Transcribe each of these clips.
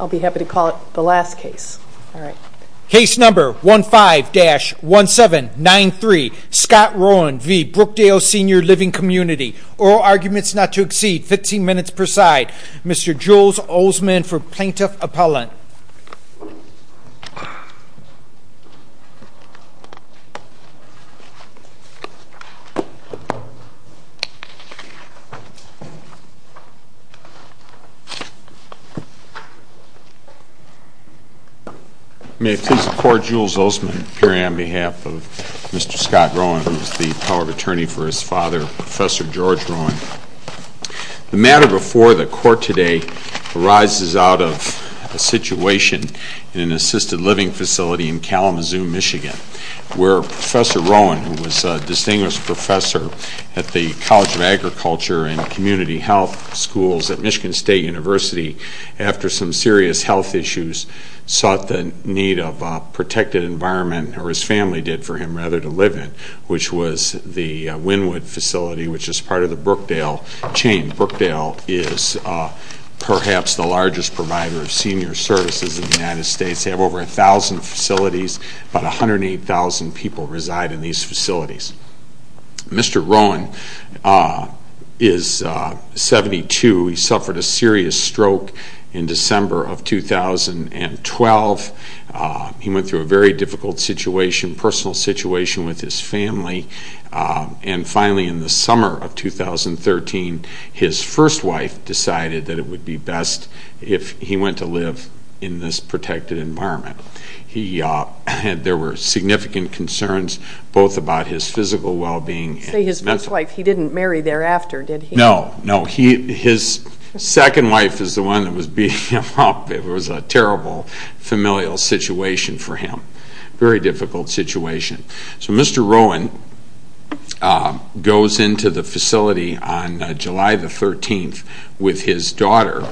I'll be happy to call it the last case. Case number 15-1793, Scott Rowan v. Brookdale Sr Living Community. Oral arguments not to exceed 15 minutes per side. Mr. Jules Oseman for Plaintiff Appellant. May it please the Court, Jules Oseman appearing on behalf of Mr. Scott Rowan, who is the power of attorney for his father, Professor George Rowan. The matter before the Court today arises out of a situation in an assisted living facility in Kalamazoo, Michigan, where Professor Rowan, who was a distinguished professor at the College of Agriculture and Community Health Schools at Michigan State University, after some serious health issues, sought the need of a protected environment, or his family did for him rather, to live in, which was the Wynwood facility, which is part of the Brookdale chain. Brookdale is perhaps the largest provider of senior services in the United States. They have over 1,000 facilities. About 108,000 people reside in these facilities. Mr. Rowan is 72. He suffered a serious stroke in December of 2012. He went through a very difficult situation, personal situation with his family. And finally, in the summer of 2013, his first wife decided that it would be best if he went to live in this protected environment. There were significant concerns, both about his physical well-being. You say his first wife. He didn't marry thereafter, did he? No, no. His second wife is the one that was beating him up. It was a terrible familial situation for him. Very difficult situation. So Mr. Rowan goes into the facility on July the 13th with his daughter,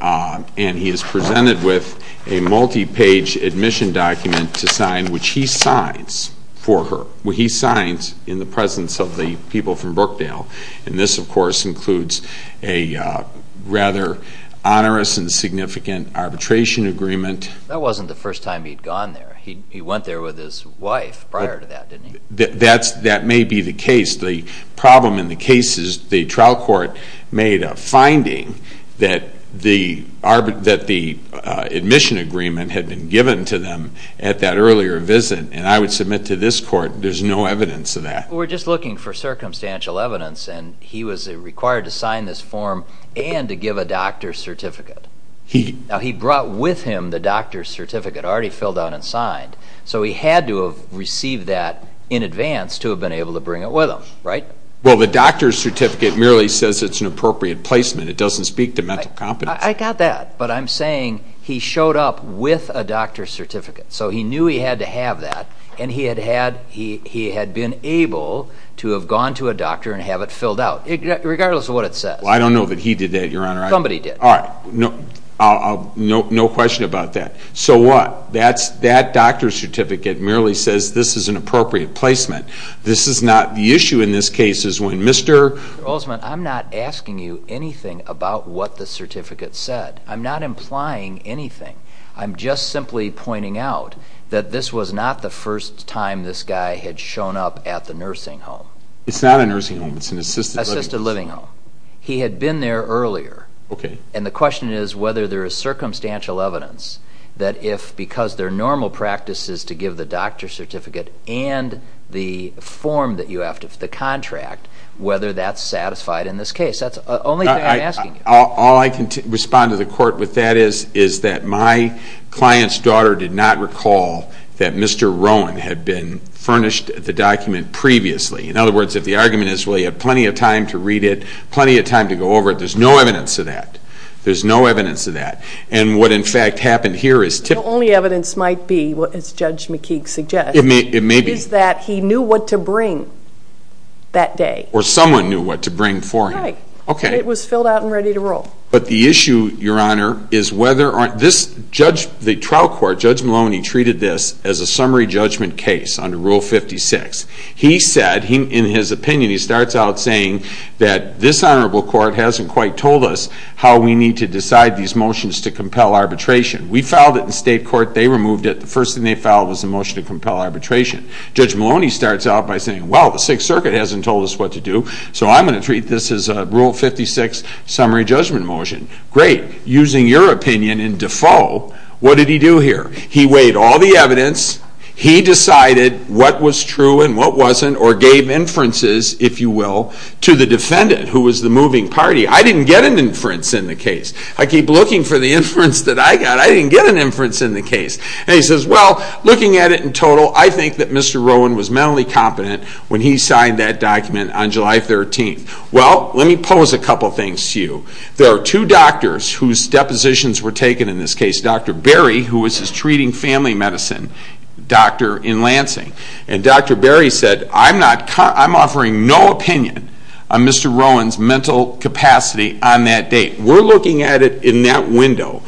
and he is presented with a multi-page admission document to sign, which he signs for her. He signs in the presence of the people from Brookdale. And this, of course, includes a rather onerous and significant arbitration agreement. That wasn't the first time he'd gone there. He went there with his wife prior to that, didn't he? That may be the case. The problem in the case is the trial court made a finding that the admission agreement had been given to them at that earlier visit, and I would submit to this court there's no evidence of that. We're just looking for circumstantial evidence, and he was required to sign this form and to give a doctor's certificate. Now, he brought with him the doctor's certificate, already filled out and signed, so he had to have received that in advance to have been able to bring it with him, right? Well, the doctor's certificate merely says it's an appropriate placement. It doesn't speak to mental competence. I got that, but I'm saying he showed up with a doctor's certificate, so he knew he had to have that, and he had been able to have gone to a doctor and have it filled out, regardless of what it says. Well, I don't know that he did that, Your Honor. Somebody did. All right, no question about that. So what? That doctor's certificate merely says this is an appropriate placement. This is not the issue in this case is when Mr. Mr. Oldsman, I'm not asking you anything about what the certificate said. I'm not implying anything. I'm just simply pointing out that this was not the first time this guy had shown up at the nursing home. It's not a nursing home. It's an assisted living home. Assisted living home. He had been there earlier, and the question is whether there is circumstantial evidence that if, because there are normal practices to give the doctor's certificate and the form that you have for the contract, whether that's satisfied in this case. That's the only thing I'm asking you. All I can respond to the Court with that is that my client's daughter did not recall that Mr. Rowan had been furnished the document previously. In other words, if the argument is, well, you had plenty of time to read it, plenty of time to go over it, there's no evidence of that. There's no evidence of that. And what, in fact, happened here is typical. The only evidence might be, as Judge McKeague suggests, is that he knew what to bring that day. Or someone knew what to bring for him. Right. And it was filled out and ready to roll. But the issue, Your Honor, is whether or not this judge, the trial court, Judge Maloney treated this as a summary judgment case under Rule 56. He said, in his opinion, he starts out saying that this honorable court hasn't quite told us how we need to decide these motions to compel arbitration. We filed it in state court. They removed it. The first thing they filed was a motion to compel arbitration. Judge Maloney starts out by saying, well, the Sixth Circuit hasn't told us what to do, so I'm going to treat this as a Rule 56 summary judgment motion. Great. Using your opinion in default, what did he do here? He weighed all the evidence. He decided what was true and what wasn't, or gave inferences, if you will, to the defendant, who was the moving party. I didn't get an inference in the case. I keep looking for the inference that I got. I didn't get an inference in the case. And he says, well, looking at it in total, I think that Mr. Rowan was mentally competent when he signed that document on July 13th. Well, let me pose a couple things to you. There are two doctors whose depositions were taken in this case. Dr. Berry, who was his treating family medicine doctor in Lansing. And Dr. Berry said, I'm offering no opinion on Mr. Rowan's mental capacity on that date. We're looking at it in that window.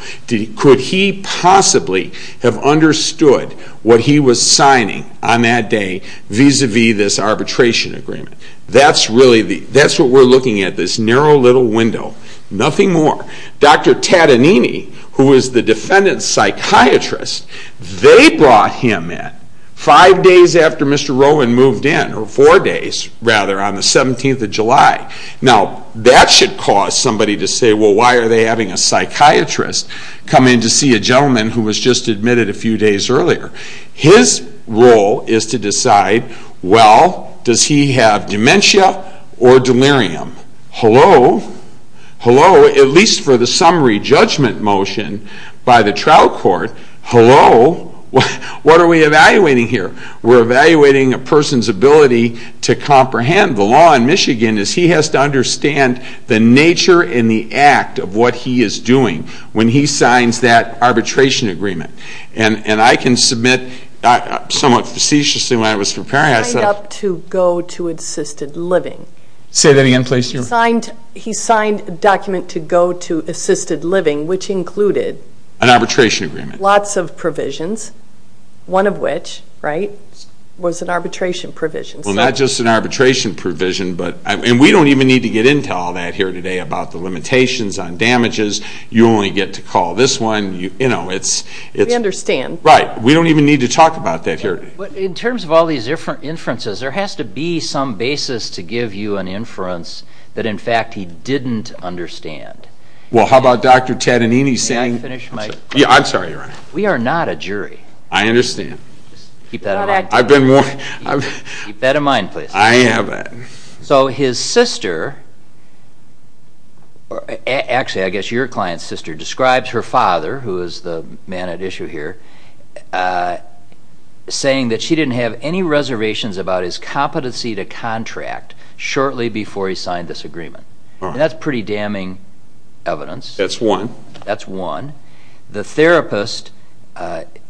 Could he possibly have understood what he was signing on that day vis-à-vis this arbitration agreement? That's what we're looking at, this narrow little window. Nothing more. Dr. Tadanini, who was the defendant's psychiatrist, they brought him in five days after Mr. Rowan moved in, or four days, rather, on the 17th of July. Now, that should cause somebody to say, well, why are they having a psychiatrist come in to see a gentleman who was just admitted a few days earlier? His role is to decide, well, does he have dementia or delirium? Hello? Hello? At least for the summary judgment motion by the trial court, hello? What are we evaluating here? We're evaluating a person's ability to comprehend the law in Michigan as he has to understand the nature and the act of what he is doing when he signs that arbitration agreement. And I can submit somewhat facetiously when I was preparing myself. Signed up to go to assisted living. Say that again, please. He signed a document to go to assisted living, which included an arbitration agreement. Lots of provisions, one of which was an arbitration provision. Well, not just an arbitration provision, and we don't even need to get into all that here today about the limitations on damages. You only get to call this one. We understand. Right. We don't even need to talk about that here. In terms of all these inferences, there has to be some basis to give you an inference that, in fact, he didn't understand. Well, how about Dr. Tadanini saying... May I finish my question? Yeah, I'm sorry, Your Honor. We are not a jury. I understand. Keep that in mind. I've been warned. Keep that in mind, please. I haven't. So his sister, actually I guess your client's sister, describes her father, who is the man at issue here, saying that she didn't have any reservations about his competency to contract shortly before he signed this agreement. And that's pretty damning evidence. That's one. That's one. The therapist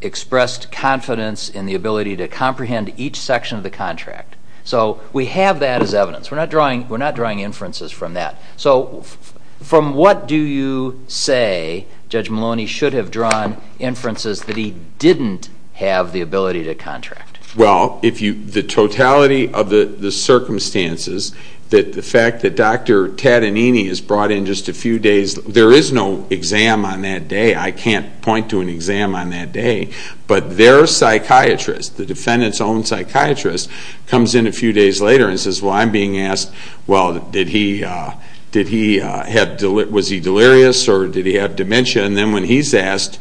expressed confidence in the ability to comprehend each section of the contract. So we have that as evidence. We're not drawing inferences from that. So from what do you say Judge Maloney should have drawn inferences that he didn't have the ability to contract? Well, the totality of the circumstances, the fact that Dr. Tadanini is brought in just a few days, there is no exam on that day. I can't point to an exam on that day. But their psychiatrist, the defendant's own psychiatrist, comes in a few days later and says, Well, I'm being asked, Well, was he delirious or did he have dementia? And then when he's asked,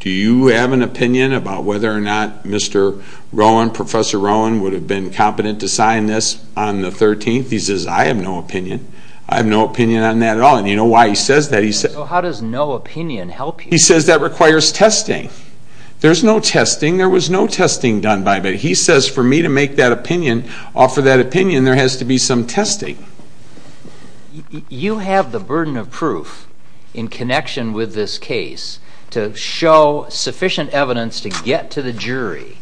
Do you have an opinion about whether or not Mr. Rowan, Professor Rowan, would have been competent to sign this on the 13th? He says, I have no opinion. I have no opinion on that at all. And you know why he says that? How does no opinion help you? He says that requires testing. There's no testing. There was no testing done by him. But he says for me to make that opinion, offer that opinion, there has to be some testing. You have the burden of proof in connection with this case to show sufficient evidence to get to the jury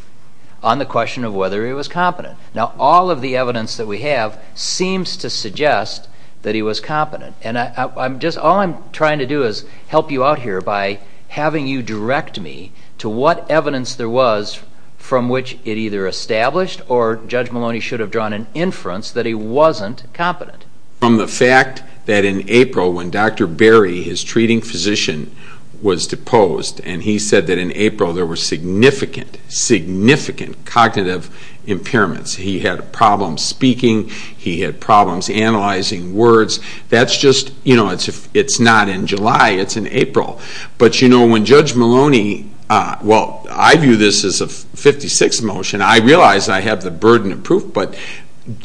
on the question of whether he was competent. Now, all of the evidence that we have seems to suggest that he was competent. And all I'm trying to do is help you out here by having you direct me to what evidence there was from which it either established or Judge Maloney should have drawn an inference that he wasn't competent. From the fact that in April, when Dr. Berry, his treating physician, was deposed, and he said that in April there were significant, significant cognitive impairments. He had problems speaking. He had problems analyzing words. That's just, you know, it's not in July. It's in April. But, you know, when Judge Maloney, well, I view this as a 56th motion. I realize I have the burden of proof, but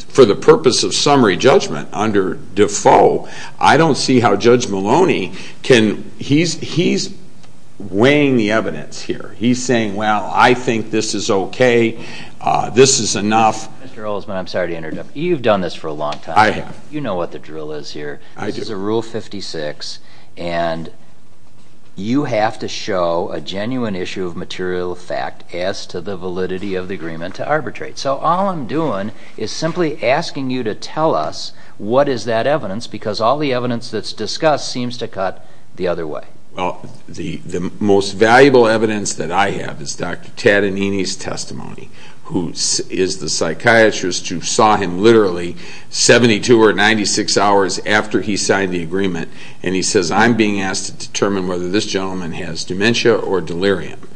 for the purpose of summary judgment under Defoe, I don't see how Judge Maloney can... He's weighing the evidence here. He's saying, well, I think this is okay. This is enough. Mr. Olesman, I'm sorry to interrupt. You've done this for a long time. I have. You know what the drill is here. I do. This is a Rule 56, and you have to show a genuine issue of material fact as to the validity of the agreement to arbitrate. So all I'm doing is simply asking you to tell us what is that evidence, because all the evidence that's discussed seems to cut the other way. Well, the most valuable evidence that I have is Dr. Tadanini's testimony, who is the psychiatrist who saw him literally 72 or 96 hours after he signed the agreement, and he says I'm being asked to determine whether this gentleman has dementia or delirium.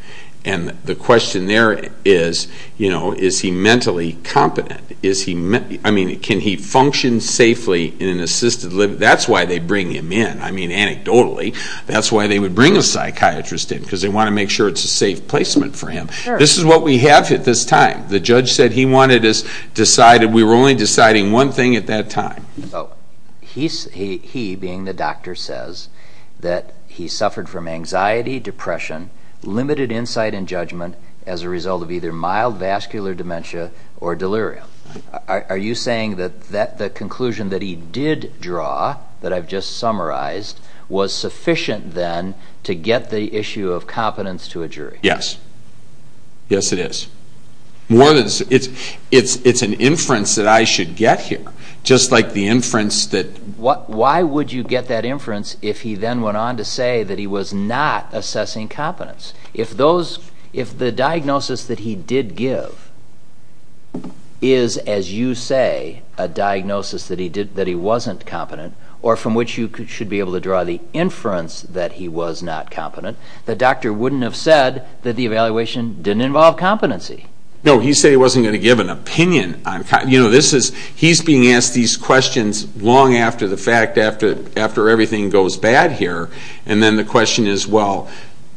And the question there is, you know, is he mentally competent? I mean, can he function safely in an assisted living? That's why they bring him in. I mean, anecdotally, that's why they would bring a psychiatrist in, because they want to make sure it's a safe placement for him. This is what we have at this time. The judge said he wanted us to decide and we were only deciding one thing at that time. limited insight and judgment as a result of either mild vascular dementia or delirium. Are you saying that the conclusion that he did draw, that I've just summarized, was sufficient then to get the issue of competence to a jury? Yes. Yes, it is. It's an inference that I should get here, just like the inference that... Why would you get that inference if he then went on to say that he was not assessing competence? If the diagnosis that he did give is, as you say, a diagnosis that he wasn't competent, or from which you should be able to draw the inference that he was not competent, the doctor wouldn't have said that the evaluation didn't involve competency. No, he said he wasn't going to give an opinion. You know, he's being asked these questions long after the fact, after everything goes bad here, and then the question is, well,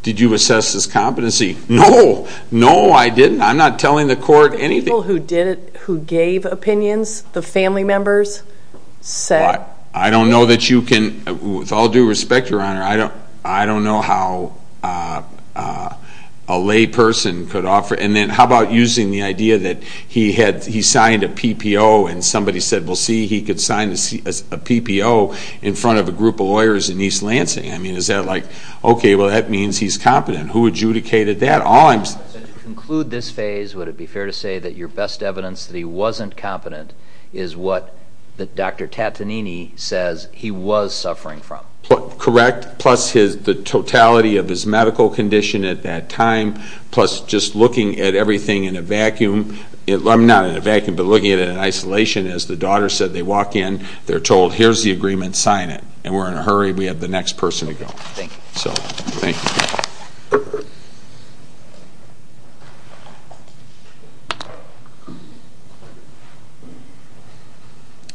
did you assess his competency? No. No, I didn't. I'm not telling the court anything. The people who did it, who gave opinions, the family members, said... I don't know that you can... With all due respect, Your Honor, I don't know how a lay person could offer... And then how about using the idea that he signed a PPO and somebody said, well, see, he could sign a PPO in front of a group of lawyers in East Lansing. I mean, is that like... Okay, well, that means he's competent. Who adjudicated that? To conclude this phase, would it be fair to say that your best evidence that he wasn't competent is what Dr. Tattanini says he was suffering from? Correct, plus the totality of his medical condition at that time, plus just looking at everything in a vacuum. I'm not in a vacuum, but looking at it in isolation. As the daughter said, they walk in, they're told, here's the agreement, sign it. And we're in a hurry, we have the next person to go. Thank you. So, thank you.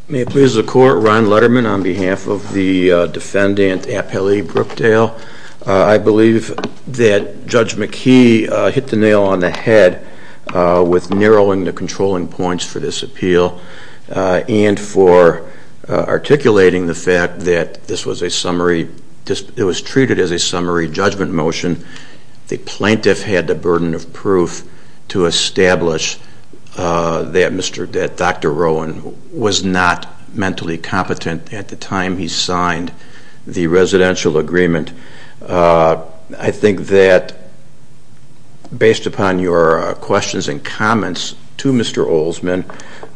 May it please the Court, Ron Letterman on behalf of the defendant, Appellee Brookdale. I believe that Judge McKee hit the nail on the head with narrowing the controlling points for this appeal and for articulating the fact that this was a summary... It was treated as a summary judgment motion. The plaintiff had the burden of proof to establish that Dr. Rowan was not mentally competent at the time he signed the residential agreement. I think that, based upon your questions and comments to Mr. Olsman,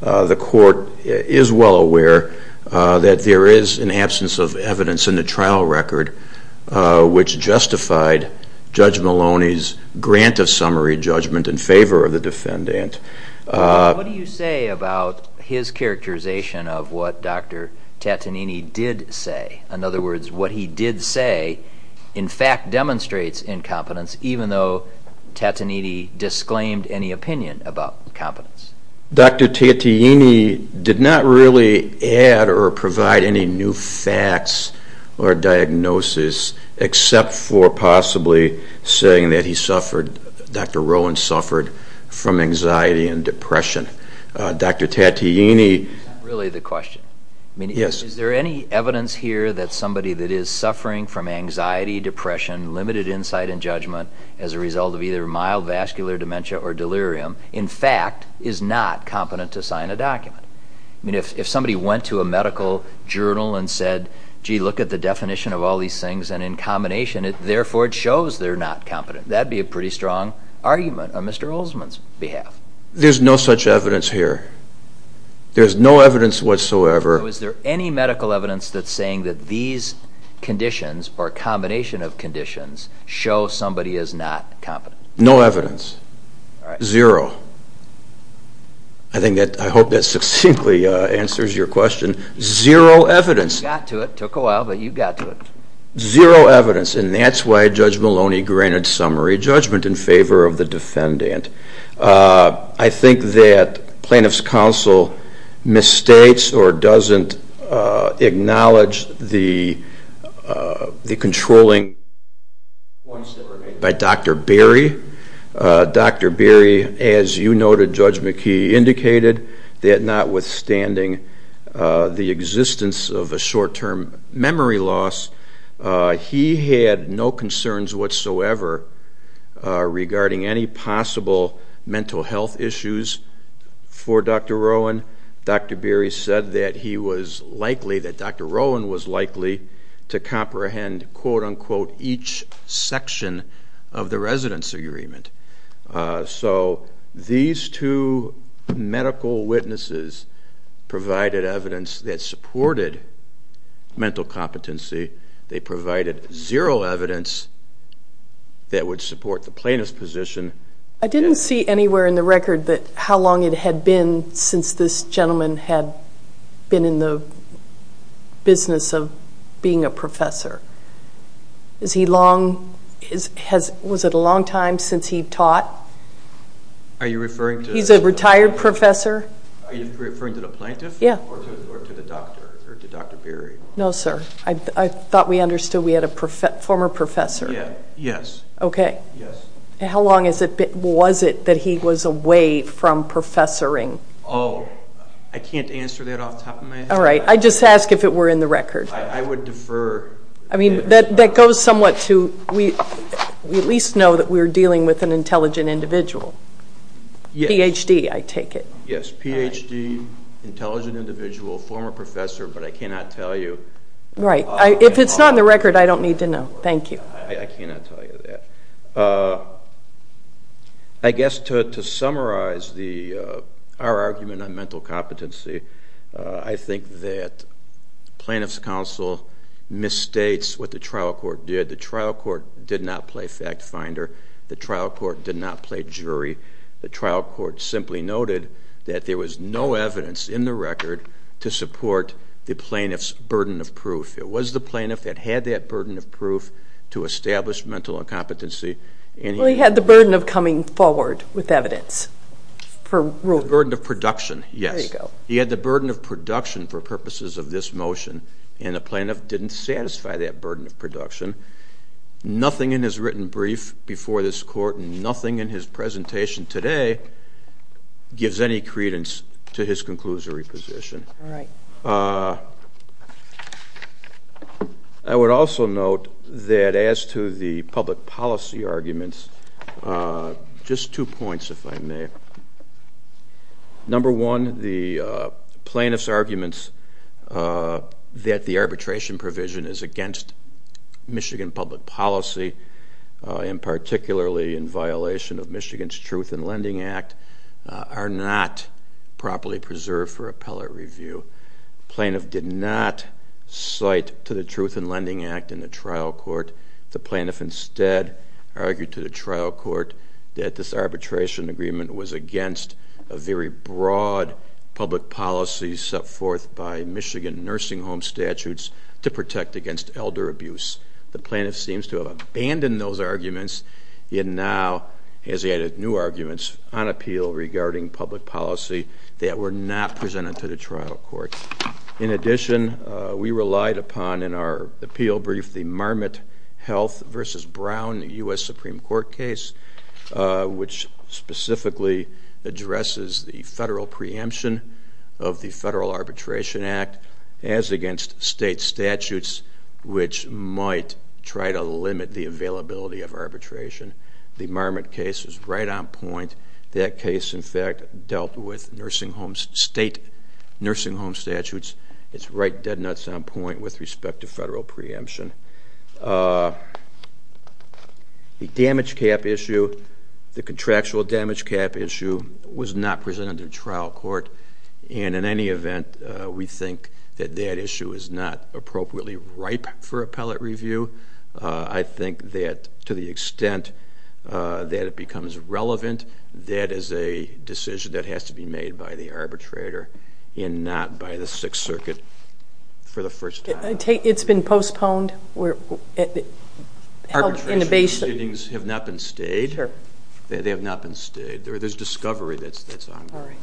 the Court is well aware that there is an absence of evidence in the trial record which justified Judge Maloney's grant of summary judgment in favour of the defendant. What do you say about his characterization of what Dr. Tattanini did say? In other words, what he did say in fact demonstrates incompetence, even though Tattanini disclaimed any opinion about competence. Dr. Tattanini did not really add or provide any new facts or diagnosis, except for possibly saying that he suffered... Dr. Rowan suffered from anxiety and depression. Dr. Tattanini... Is that really the question? Yes. Is there any evidence here that somebody that is suffering from anxiety, depression, limited insight and judgment as a result of either mild vascular dementia or delirium, in fact is not competent to sign a document? If somebody went to a medical journal and said, gee, look at the definition of all these things, and in combination, therefore it shows they're not competent, that would be a pretty strong argument on Mr. Olsman's behalf. There's no such evidence here. There's no evidence whatsoever. So is there any medical evidence that's saying that these conditions or combination of conditions show somebody is not competent? No evidence. All right. Zero. I hope that succinctly answers your question. Zero evidence. You got to it. It took a while, but you got to it. Zero evidence. And that's why Judge Maloney granted summary judgment in favor of the defendant. I think that Plaintiff's Counsel misstates or doesn't acknowledge the controlling points that were made by Dr. Berry. Dr. Berry, as you noted, Judge McKee, indicated that notwithstanding the existence of a short-term memory loss, he had no concerns whatsoever regarding any possible mental health issues for Dr. Rowan. Dr. Berry said that he was likely, that Dr. Rowan was likely to comprehend, quote-unquote, each section of the residence agreement. So these two medical witnesses provided evidence that supported mental competency. They provided zero evidence that would support the plaintiff's position. I didn't see anywhere in the record how long it had been since this gentleman had been in the business of being a professor. Is he long? Was it a long time since he taught? Are you referring to? He's a retired professor. Are you referring to the plaintiff? Yeah. Or to the doctor, or to Dr. Berry? No, sir. I thought we understood we had a former professor. Yes. Okay. Yes. How long was it that he was away from professoring? Oh, I can't answer that off the top of my head. All right. I just asked if it were in the record. I would defer. I mean, that goes somewhat to we at least know that we're dealing with an intelligent individual. Yes. Ph.D., I take it. Yes, Ph.D., intelligent individual, former professor, but I cannot tell you. Right. If it's not in the record, I don't need to know. Thank you. I cannot tell you that. I guess to summarize our argument on mental competency, I think that plaintiff's counsel misstates what the trial court did. The trial court did not play fact finder. The trial court did not play jury. The trial court simply noted that there was no evidence in the record to support the plaintiff's burden of proof. It was the plaintiff that had that burden of proof to establish mental incompetency. Well, he had the burden of coming forward with evidence for ruling. The burden of production, yes. There you go. He had the burden of production for purposes of this motion, and the plaintiff didn't satisfy that burden of production. Nothing in his written brief before this Court and nothing in his presentation today gives any credence to his conclusory position. All right. I would also note that as to the public policy arguments, just two points, if I may. Number one, the plaintiff's arguments that the arbitration provision is against Michigan public policy and particularly in violation of Michigan's Truth in Lending Act are not properly preserved for appellate review. The plaintiff did not cite to the Truth in Lending Act in the trial court. The plaintiff instead argued to the trial court that this arbitration agreement was against a very broad public policy set forth by Michigan nursing home statutes to protect against elder abuse. The plaintiff seems to have abandoned those arguments and now has added new arguments on appeal regarding public policy that were not presented to the trial court. In addition, we relied upon in our appeal brief the Marmot Health v. Brown U.S. Supreme Court case, which specifically addresses the federal preemption of the Federal Arbitration Act as against state statutes which might try to limit the availability of arbitration. The Marmot case is right on point. That case, in fact, dealt with state nursing home statutes. It's right dead nuts on point with respect to federal preemption. The damage cap issue, the contractual damage cap issue, was not presented to trial court. In any event, we think that that issue is not appropriately ripe for appellate review. I think that to the extent that it becomes relevant, that is a decision that has to be made by the arbitrator and not by the Sixth Circuit for the first time. It's been postponed? Arbitration proceedings have not been stayed. They have not been stayed. There's discovery that's ongoing.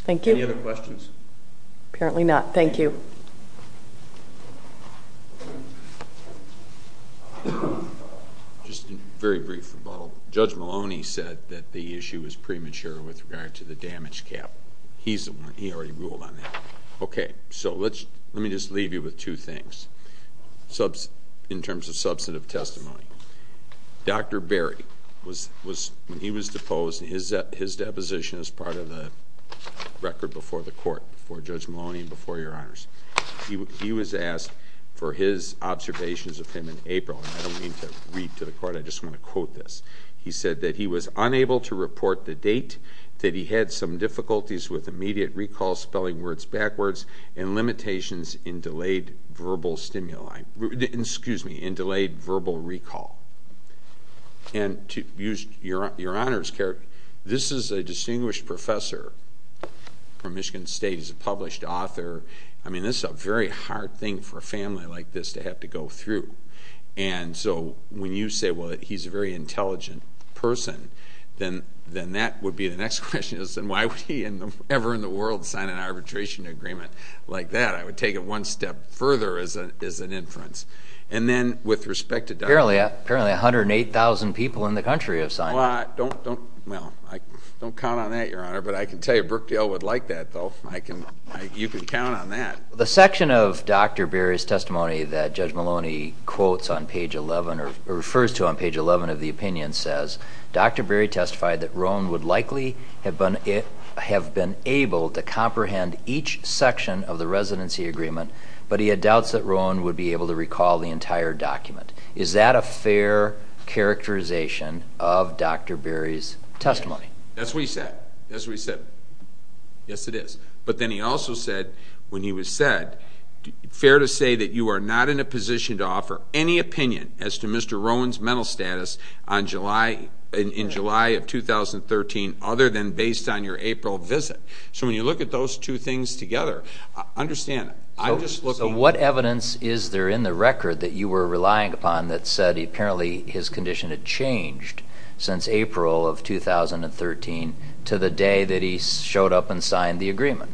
Thank you. Any other questions? Apparently not. Thank you. Just a very brief rebuttal. Judge Maloney said that the issue is premature with regard to the damage cap. He already ruled on that. Okay. Let me just leave you with two things in terms of substantive testimony. Dr. Berry, when he was deposed, his deposition is part of the record before the court, before Judge Maloney and before Your Honors. He was asked for his observations of him in April. I don't mean to read to the court. I just want to quote this. He said that he was unable to report the date, that he had some difficulties with immediate recall, spelling words backwards, and limitations in delayed verbal recall. And to use Your Honors' character, this is a distinguished professor from Michigan State. He's a published author. I mean, this is a very hard thing for a family like this to have to go through. And so when you say, well, he's a very intelligent person, then that would be the next question. And why would he ever in the world sign an arbitration agreement like that? I would take it one step further as an inference. And then with respect to Dr. Berry. Apparently 108,000 people in the country have signed it. Well, don't count on that, Your Honor. But I can tell you Brookdale would like that, though. You can count on that. The section of Dr. Berry's testimony that Judge Maloney quotes on page 11 or refers to on page 11 of the opinion says, Dr. Berry testified that Rowan would likely have been able to comprehend each section of the residency agreement, but he had doubts that Rowan would be able to recall the entire document. Is that a fair characterization of Dr. Berry's testimony? That's what he said. That's what he said. Yes, it is. But then he also said when he was said, fair to say that you are not in a position to offer any opinion as to Mr. Rowan's mental status in July of 2013 other than based on your April visit. So when you look at those two things together, understand I'm just looking. So what evidence is there in the record that you were relying upon that said apparently his condition had changed since April of 2013 to the day that he showed up and signed the agreement?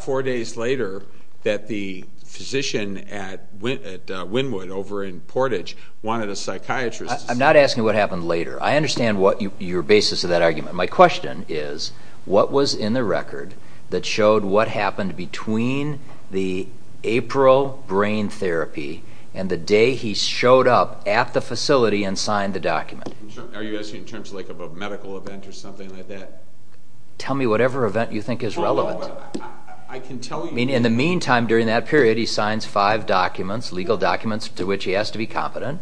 Four days later that the physician at Wynwood over in Portage wanted a psychiatrist. I'm not asking what happened later. I understand your basis of that argument. My question is what was in the record that showed what happened between the April brain therapy and the day he showed up at the facility and signed the document? Are you asking in terms of a medical event or something like that? Tell me whatever event you think is relevant. I can tell you. In the meantime during that period he signs five documents, legal documents to which he has to be competent,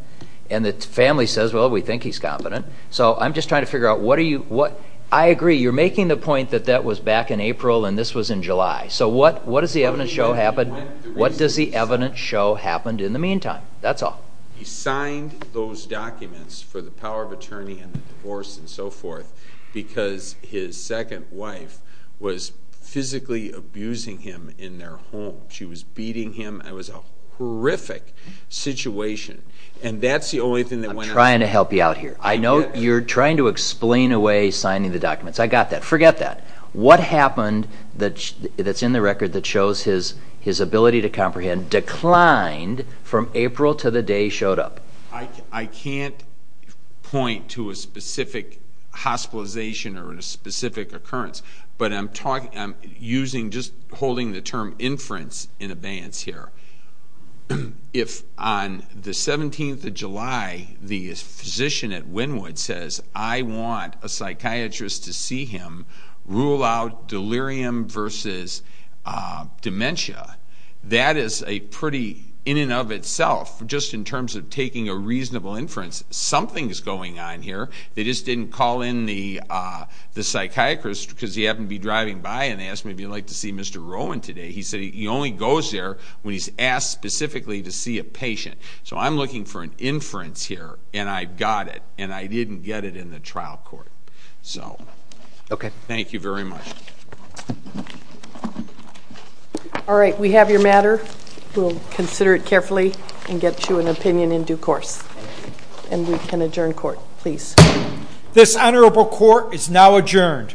and the family says, well, we think he's competent. So I'm just trying to figure out what are you? I agree. You're making the point that that was back in April and this was in July. So what does the evidence show happened? What does the evidence show happened in the meantime? That's all. He signed those documents for the power of attorney and the divorce and so forth because his second wife was physically abusing him in their home. She was beating him. It was a horrific situation. And that's the only thing that went on. I'm trying to help you out here. I know you're trying to explain away signing the documents. I got that. Forget that. What happened that's in the record that shows his ability to comprehend declined from April to the day he showed up? I can't point to a specific hospitalization or a specific occurrence, but I'm just holding the term inference in abeyance here. If on the 17th of July the physician at Wynwood says, I want a psychiatrist to see him rule out delirium versus dementia, that is a pretty in and of itself just in terms of taking a reasonable inference. Something is going on here. They just didn't call in the psychiatrist because he happened to be driving by and asked me if he'd like to see Mr. Rowan today. He said he only goes there when he's asked specifically to see a patient. So I'm looking for an inference here, and I've got it, and I didn't get it in the trial court. Thank you very much. All right. We have your matter. We'll consider it carefully and get you an opinion in due course, and we can adjourn court. Please. This honorable court is now adjourned.